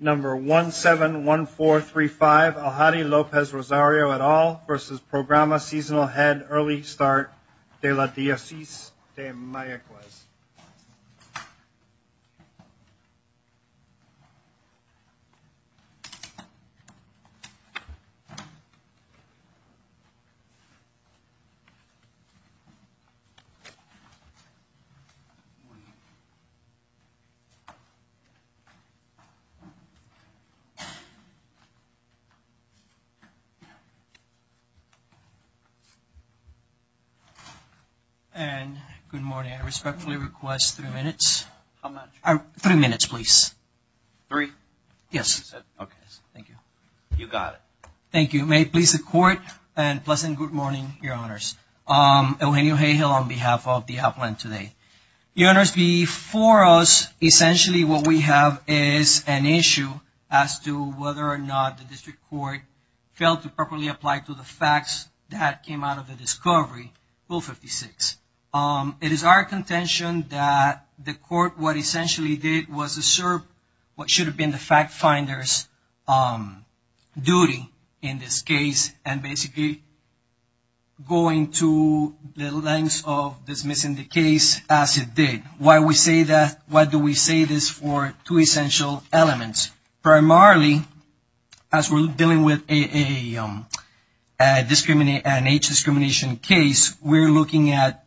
Number 171435, Aljari Lopez-Rosario, et al. v. Programa Seasonal Head Early Start de la Diocese de Mayaguez. And good morning. I respectfully request three minutes. How much? Three minutes, please. Three? Yes. Okay. Thank you. You got it. Thank you. May it please the Court and pleasant good morning, Your Honors. Eugenio Hayhill on behalf of the appellant today. Your Honors, before us essentially what we have is an issue as to whether or not the District Court failed to properly apply to the facts that came out of the discovery, Rule 56. It is our contention that the Court what essentially did was assert what should have been the fact finder's duty in this case and basically going to the lengths of dismissing the case as it did. Why do we say this? For two essential elements. Primarily as we are dealing with an age discrimination case, we are looking at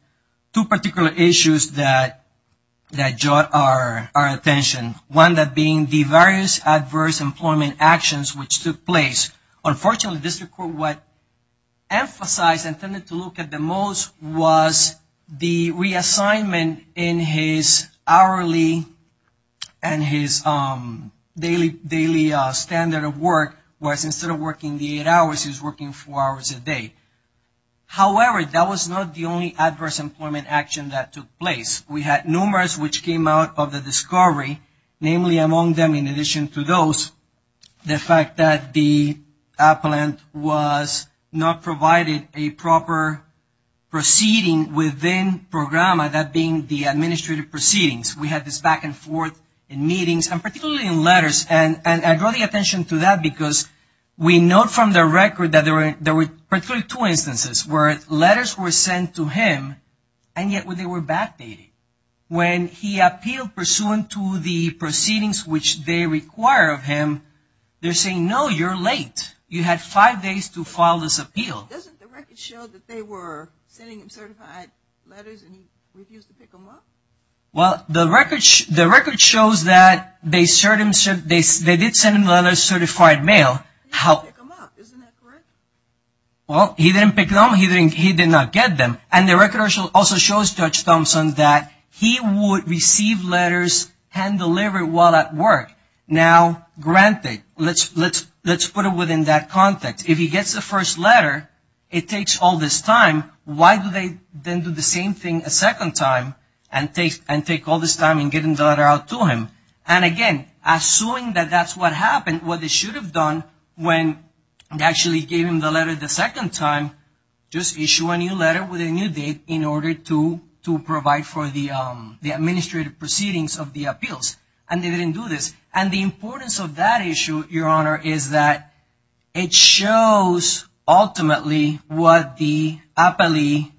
two particular issues that draw our attention. One being the various adverse employment actions which took place. Unfortunately, District Court what emphasized and tended to look at the most was the reassignment in his hourly and his daily standard of work was instead of working the eight hours, he was working four hours a day. However, that was not the only adverse employment action that took place. We had numerous which came out of the discovery, namely among them in was not provided a proper proceeding within programma, that being the administrative proceedings. We had this back and forth in meetings and particularly in letters and I draw the attention to that because we note from the record that there were particularly two instances where letters were sent to him and yet they were backdated. When he appealed pursuant to the you had five days to file this appeal. Doesn't the record show that they were sending him certified letters and he refused to pick them up? Well, the record shows that they did send him letters certified mail. He didn't pick them up, isn't that correct? Well, he didn't pick them up, he did not get them and the record also shows Judge Thompson that he would receive letters hand delivered while at work. Now granted, let's put it within that context. If he gets the first letter, it takes all this time, why do they then do the same thing a second time and take all this time in getting the letter out to him? And again, assuming that that's what happened, what they should have done when they actually gave him the letter the second time, just issue a new letter with a new date in order to provide for the administrative proceedings of the appeals and they didn't do this. And the importance of that issue, Your Honor, is that it shows ultimately what the appellee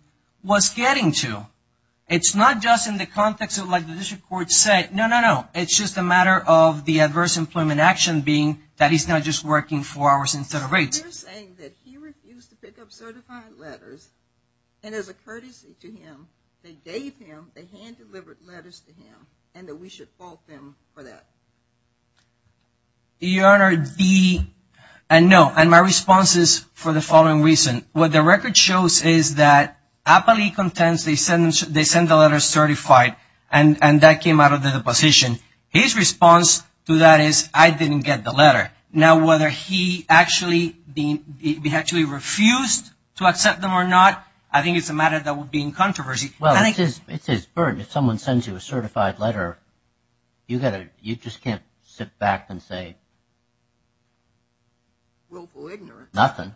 was getting to. It's not just in the context of like the district court said, no, no, no, it's just a matter of the adverse employment action being that he's not just working four hours instead of eight. So you're saying that he refused to pick up certified letters and as a courtesy to him, they gave him, they hand delivered letters to him and that we should fault them for that? Your Honor, the, and no, and my response is for the following reason. What the record shows is that appellee contents, they send the letter certified and that came out of the deposition. His response to that is I didn't get the letter. Now whether he actually refused to accept them or not, I think it's a matter that would be in controversy. Well, it's his burden. If someone sends you a certified letter, you just can't sit back and say nothing.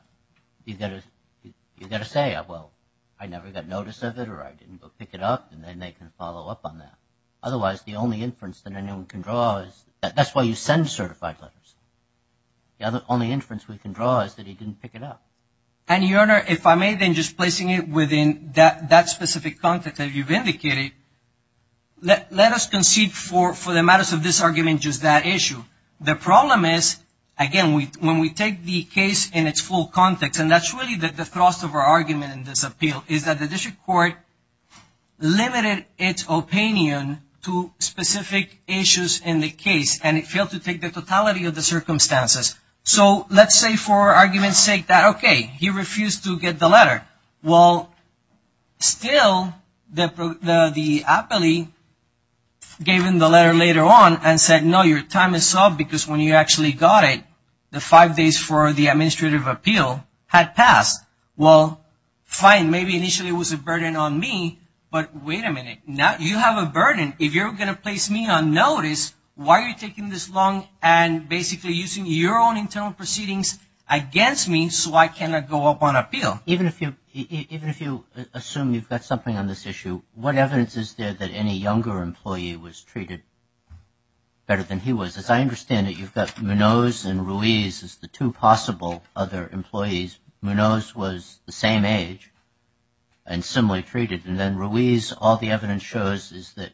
You've got to say, well, I never got notice of it or I didn't go pick it up and then they can follow up on that. Otherwise, the only inference that anyone can draw is, that's why you send certified letters. The only inference we can draw is that he didn't pick it up. And Your Honor, if I may then just placing it within that specific context that you've indicated, let us concede for the matters of this argument just that issue. The problem is, again, when we take the case in its full context and that's really the thrust of our argument in this appeal is that the district court limited its opinion to specific issues in the case and it failed to take the totality of the circumstances. So, let's say for argument's sake that okay, he refused to get the letter. Well, still the appellee gave him the letter later on and said no, your time is up because when you actually got it, the five days for the administrative appeal had passed. Well, fine, maybe initially it was a burden on me, but wait a minute, now you have a burden. If you're going to place me on notice, why are you taking this long and basically using your own internal proceedings against me so I cannot go up on appeal? Even if you assume you've got something on this issue, what evidence is there that any younger employee was treated better than he was? As I understand it, you've got Munoz and Ruiz as the two possible other employees. Munoz was the same age and similarly treated and then Ruiz, all the evidence shows is that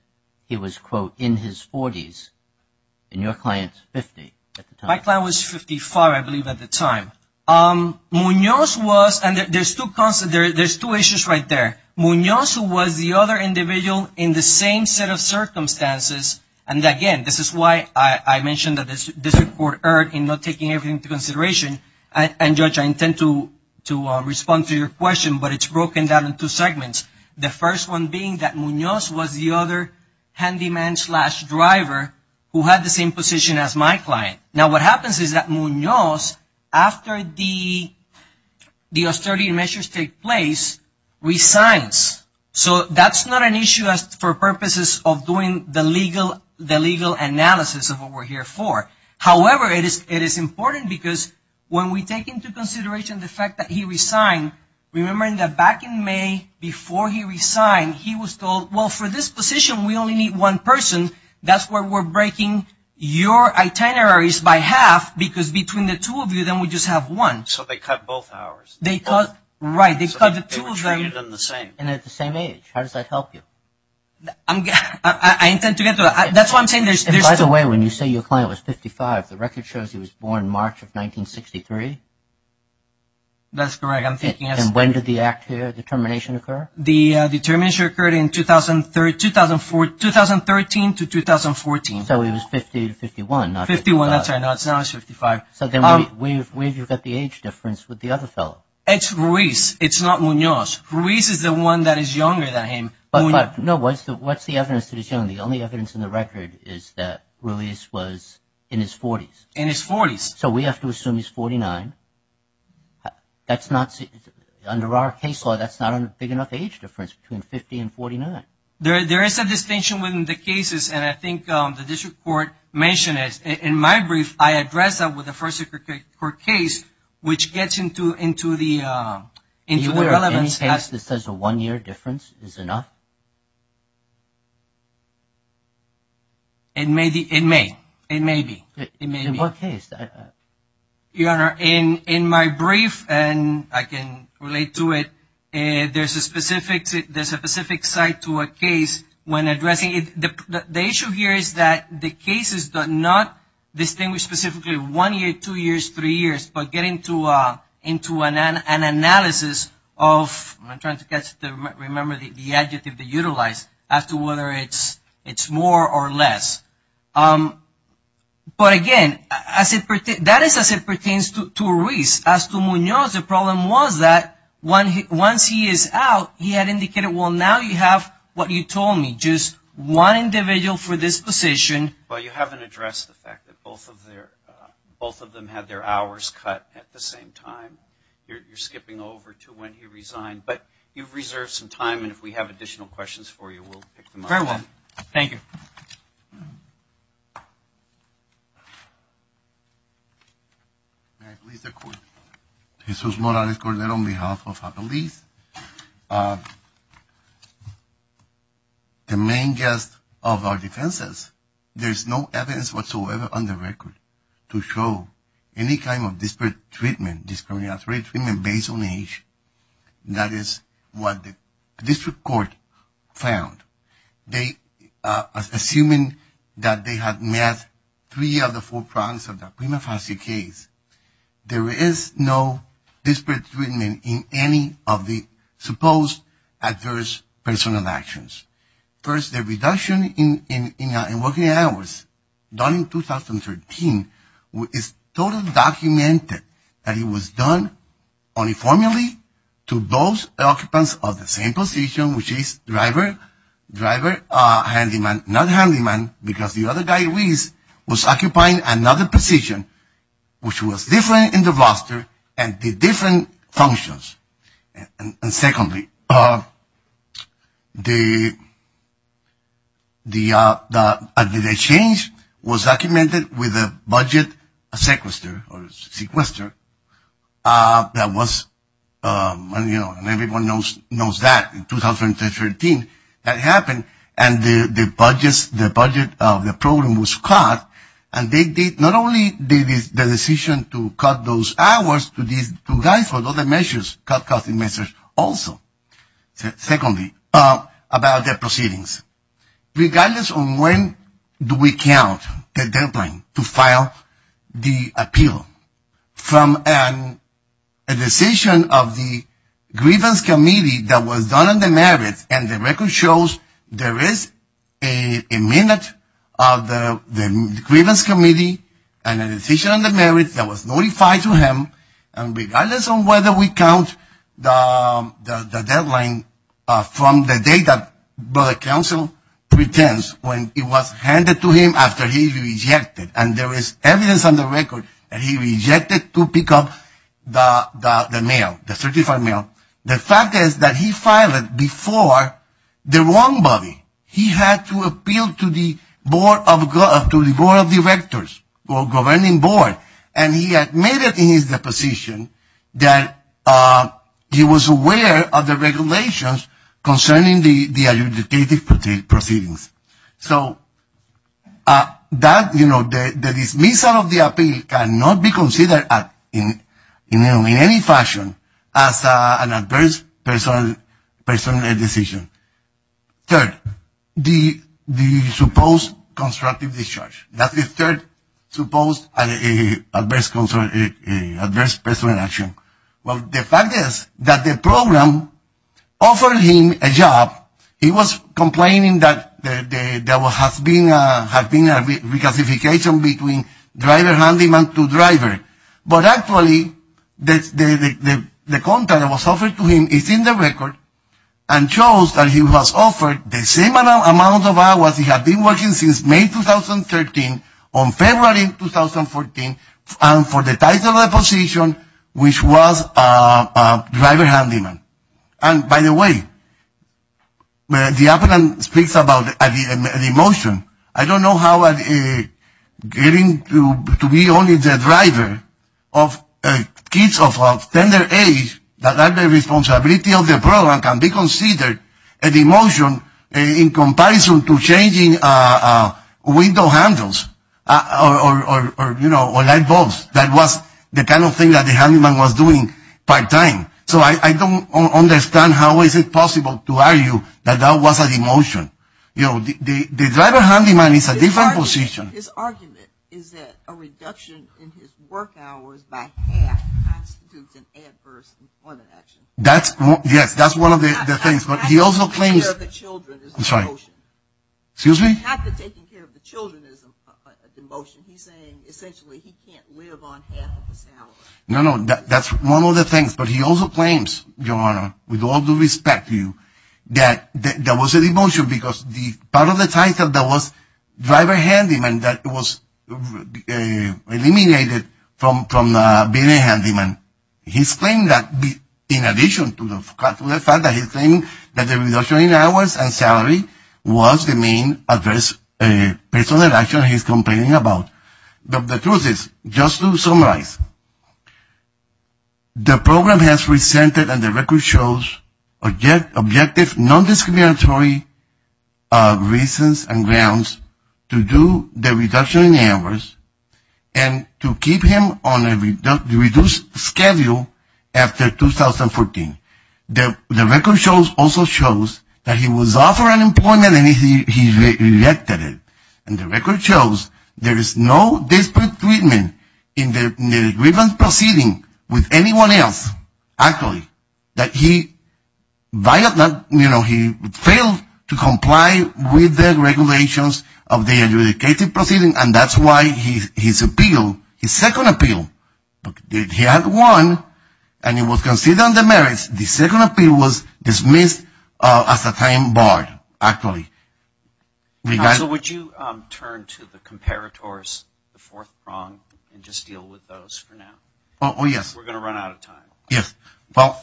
he was, quote, in his 40s and your client's 50 at the time. My client was 55, I believe, at the time. Munoz was and there's two issues right there. Munoz was the other individual in the same set of circumstances and again, this is why I mentioned that the district court erred in not taking everything into consideration and Judge, I intend to respond to your question, but it's broken down into segments. The first one being that Munoz was the other handyman slash driver who had the same position as my client. Now what happens is that Munoz, after the austerity measures take place, resigns. So that's not an issue for purposes of doing the legal analysis of what we're here for. However, it is important because when we take into consideration the fact that he resigned, remembering that back in May before he resigned, he was told, well, for this position, we only need one person, that's why we're breaking your itineraries by half because between the two of you, then we just have one. So they cut both hours. Right, they cut the two of them. So they were treated in the same. And at the same age, how does that help you? I intend to get to that. That's why I'm saying there's two. By the way, when you say your client was 55, the record shows he was born March of 1963. That's correct. And when did the determination occur? The determination occurred in 2013 to 2014. So he was 50 to 51. 51, that's right. No, it's not. It's 55. So then where do you get the age difference with the other fellow? It's Ruiz. It's not Munoz. Ruiz is the one that is younger than him. No, what's the evidence that he's young? The only evidence in the record is that Ruiz was in his 40s. In his 40s. So we have to assume he's 49. That's not, under our case law, that's not a big enough age difference between 50 and 49. There is a distinction within the cases, and I think the district court mentioned it. In my brief, I addressed that with the first circuit court case, which gets into the relevance. Does any case that says a one-year difference is enough? It may be. In what case? Your Honor, in my brief, and I can relate to it, there's a specific site to a case when addressing it. The issue here is that the cases do not distinguish specifically one year, two years, three years, but get into an analysis of, I'm trying to remember the adjective to utilize, as to whether it's more or less. But again, that is as it pertains to Ruiz. As to Munoz, the problem was that once he is out, he had indicated, well, now you have what you told me, just one individual for this position. Well, you haven't addressed the fact that both of them had their hours cut at the same time. You're skipping over to when he resigned, but you've reserved some time, and if we have additional questions for you, we'll pick them up. Very well. Thank you. May it please the Court. Jesus Morales Cordero on behalf of Appellees. The main gist of our defenses, there's no evidence whatsoever on the record to show any kind of disparate treatment, discriminatory treatment based on age. That is what the District Court found. Assuming that they had met three of the four prongs of the prima facie case, there is no disparate treatment in any of the supposed adverse personal actions. First, the reduction in working hours done in 2013 is totally documented that it was done uniformly to both occupants of the same position, which is driver, driver, handyman, not handyman, because the other guy, Reese, was occupying another position, which was different in the roster and did different functions. And secondly, the change was documented with a budget sequester, or sequester, that was, you know, and everyone knows that in 2013 that happened, and the budget of the program was cut, and not only did the decision to cut those hours, to guide for other measures, cut costing measures also. Secondly, about the proceedings. Regardless of when do we count the deadline to file the appeal, from a decision of the grievance committee that was done on the merits, and the record shows there is a minute of the grievance committee, and a decision on the merits that was notified to him, and regardless of whether we count the deadline from the date that the counsel pretends, when it was handed to him after he rejected, and there is evidence on the record that he rejected to pick up the mail, the certified mail. The fact is that he filed it before the wrong body. He had to appeal to the board of directors, or governing board, and he admitted in his deposition that he was aware of the regulations concerning the adjudicated proceedings. So the dismissal of the appeal cannot be considered in any fashion as an adverse personal decision. Third, the supposed constructive discharge. That's the third supposed adverse personal action. Well, the fact is that the program offered him a job. He was complaining that there has been a reclassification between driver-handyman to driver, but actually, the contract that was offered to him is in the record, and shows that he was offered the same amount of hours he had been working since May 2013, on February 2014, and for the title of the position, which was driver-handyman. And by the way, the applicant speaks about an emotion. I don't know how getting to be only the driver of kids of a tender age that are the responsibility of the program can be considered an emotion in comparison to changing window handles or light bulbs. That was the kind of thing that the handyman was doing part-time. So I don't understand how is it possible to argue that that was an emotion. You know, the driver-handyman is a different position. His argument is that a reduction in his work hours by half constitutes an adverse employment action. Yes, that's one of the things, but he also claims... Not that taking care of the children is an emotion. Excuse me? Not that taking care of the children is an emotion. He's saying, essentially, he can't live on half of his salary. No, no, that's one of the things, but he also claims, Your Honor, with all due respect to you, that that was an emotion because part of the title that was driver-handyman that was eliminated from being a handyman. He's claiming that, in addition to the fact that he's claiming that the reduction in hours and salary was the main adverse personal action he's complaining about. The truth is, just to summarize, the program has resented and the record shows objective non-discriminatory reasons and grounds to do the reduction in hours and to keep him on a reduced schedule after 2014. The record also shows that he was offered unemployment and he rejected it. And the record shows there is no disparate treatment in the grievance proceeding with anyone else, actually, that he failed to comply with the regulations of the adjudicated proceeding and that's why his appeal, his second appeal, he had won and it was considered on the merits. The second appeal was dismissed as a time barred, actually. Counsel, would you turn to the comparators, the fourth prong, and just deal with those for now? Oh, yes. We're going to run out of time. Yes. Well,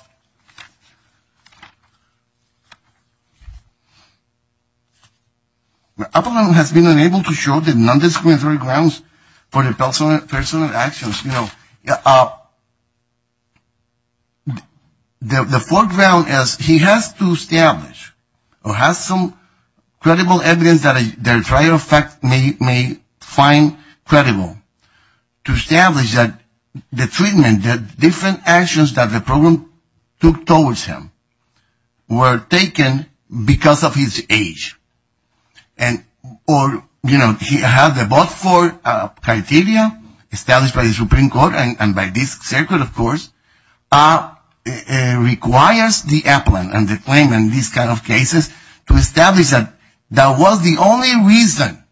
my opponent has been unable to show the non-discriminatory grounds for the personal actions. You know, the fourth prong is he has to establish or has some credible evidence that the trial may find credible to establish that the treatment, the different actions that the program took towards him were taken because of his age. And, or, you know, he had the both four criteria established by the Supreme Court and by this circuit, of course, requires the appellant and the claimant in these kind of cases to establish that that was the only reason,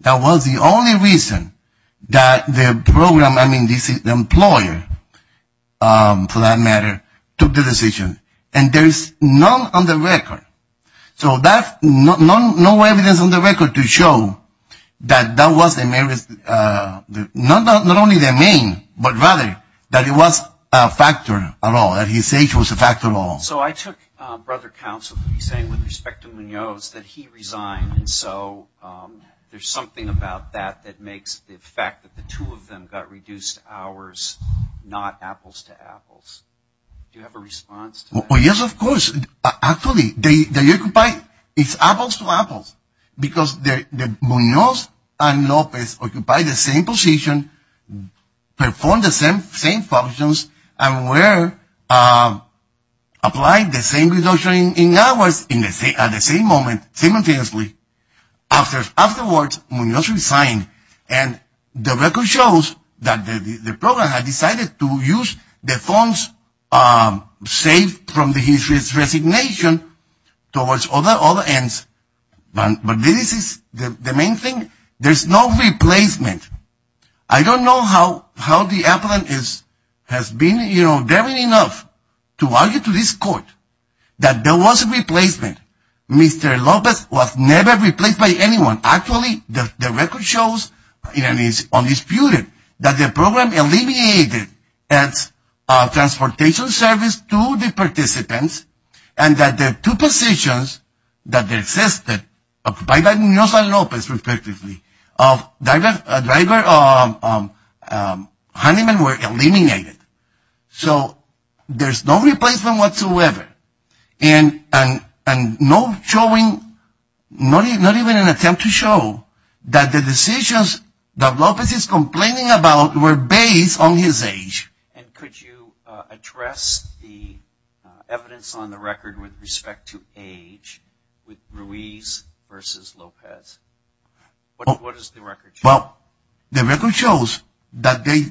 that was the only reason that the program, I mean, the employer, for that matter, took the decision. And there is none on the record. So that, no evidence on the record to show that that was the, not only the main, but rather that it was a factor at all, that his age was a factor at all. So I took Brother Counsel to be saying, with respect to Munoz, that he resigned. And so there's something about that that makes the fact that the two of them got reduced hours not apples to apples. Do you have a response to that? Yes, of course. Actually, they occupied, it's apples to apples. Because Munoz and Lopez occupied the same position, performed the same functions, and were applied the same reduction in hours at the same moment simultaneously. Afterwards, Munoz resigned. And the record shows that the program had decided to use the funds saved from his resignation towards other ends. But this is the main thing. There's no replacement. I don't know how the appellant has been daring enough to argue to this court that there was a replacement. Mr. Lopez was never replaced by anyone. Actually, the record shows, and it's undisputed, that the program eliminated its transportation service to the participants and that the two positions that existed by Munoz and Lopez, respectively, of driver honeymen were eliminated. So there's no replacement whatsoever. And no showing, not even an attempt to show, that the decisions that Lopez is complaining about were based on his age. And could you address the evidence on the record with respect to age, with Ruiz versus Lopez? What does the record show? Well, the record shows that they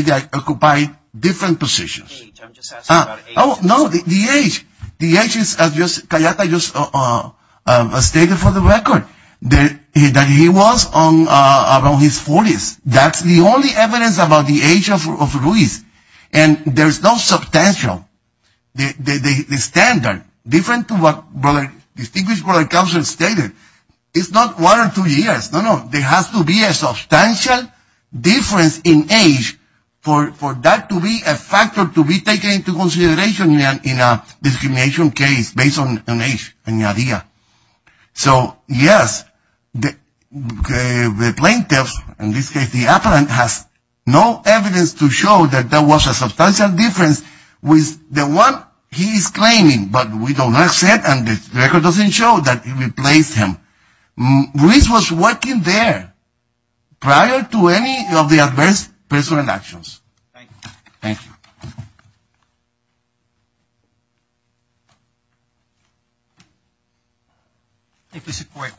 did occupy different positions. Age, I'm just asking about age. No, the age. The age, as Cayeta just stated for the record, that he was around his 40s. That's the only evidence about the age of Ruiz. And there's no substantial. The standard, different to what Distinguished Brother Counsel stated, is not one or two years. No, no, there has to be a substantial difference in age for that to be a factor to be taken into consideration in a discrimination case based on age. So, yes, the plaintiffs, in this case the appellant, has no evidence to show that there was a substantial difference with the one he's claiming. But we don't accept and the record doesn't show that it replaced him. Ruiz was working there prior to any of the adverse personal actions. Thank you. Thank you. Thank you, Secretary.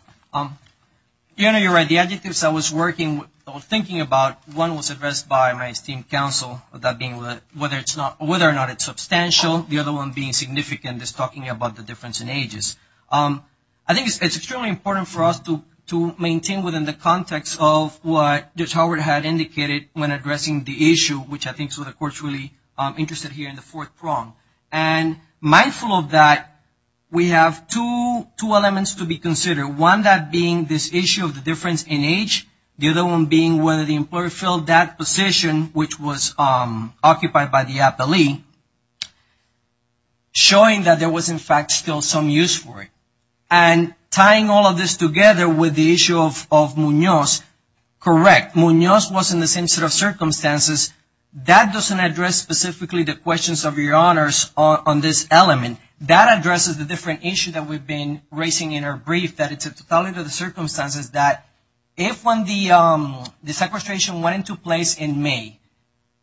Diana, you're right. The adjectives I was thinking about, one was addressed by my esteemed counsel, that being whether or not it's substantial. The other one being significant, just talking about the difference in ages. I think it's extremely important for us to maintain within the context of what we're discussing, the issue, which I think is what the Court's really interested here in the fourth prong. And mindful of that, we have two elements to be considered. One, that being this issue of the difference in age. The other one being whether the employer filled that position, which was occupied by the appellee, showing that there was, in fact, still some use for it. And tying all of this together with the issue of Munoz, correct. Munoz was in the same set of circumstances. That doesn't address specifically the questions of your honors on this element. That addresses the different issue that we've been raising in our brief, that it's a totality of the circumstances that if when the sequestration went into place in May,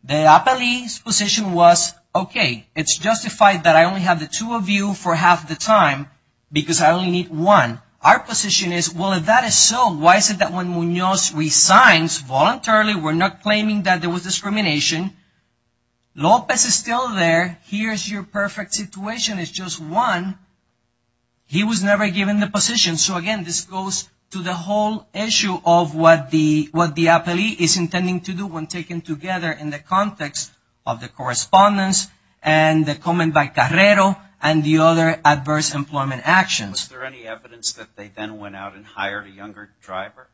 the appellee's position was, okay, it's justified that I only have the two of you for half the time because I only need one. Our position is, well, if that is so, why is it that when Munoz resigns, voluntarily, we're not claiming that there was discrimination. Lopez is still there. Here's your perfect situation. It's just one. He was never given the position. So, again, this goes to the whole issue of what the appellee is intending to do when taken together in the context of the correspondence and the comment by Carrero and the other adverse employment actions. Was there any evidence that they then went out and hired a younger driver?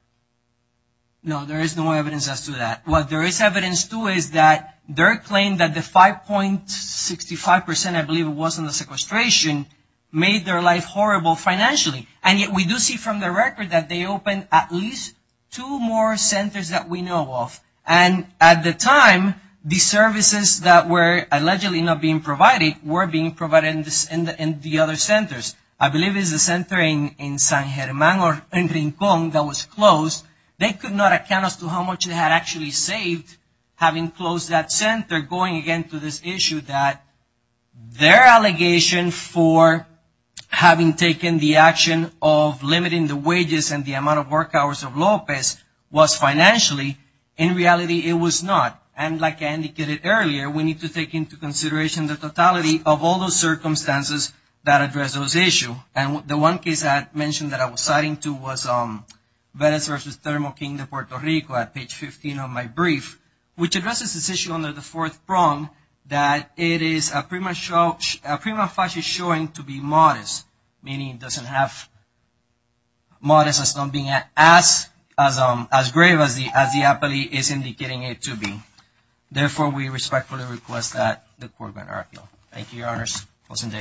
No, there is no evidence as to that. What there is evidence to is that their claim that the 5.65 percent, I believe it was in the sequestration, made their life horrible financially. And yet we do see from the record that they opened at least two more centers that we know of. And at the time, the services that were allegedly not being provided were being provided in the other centers. I believe it was the center in San Germán or in Rincon that was closed. They could not account as to how much they had actually saved having closed that center, going again to this issue that their allegation for having taken the action of limiting the wages and the amount of work hours of Lopez was financially. In reality, it was not. And like I indicated earlier, we need to take into consideration the issue. And the one case I had mentioned that I was citing to was Vélez v. Thermal Kingdom, Puerto Rico, at page 15 of my brief, which addresses this issue under the fourth prong that it is a prima facie showing to be modest, meaning it doesn't have modest as being as grave as the appellee is indicating it to be. Therefore, we respectfully request that the court grant our appeal. Thank you, Your Honors. Awesome day.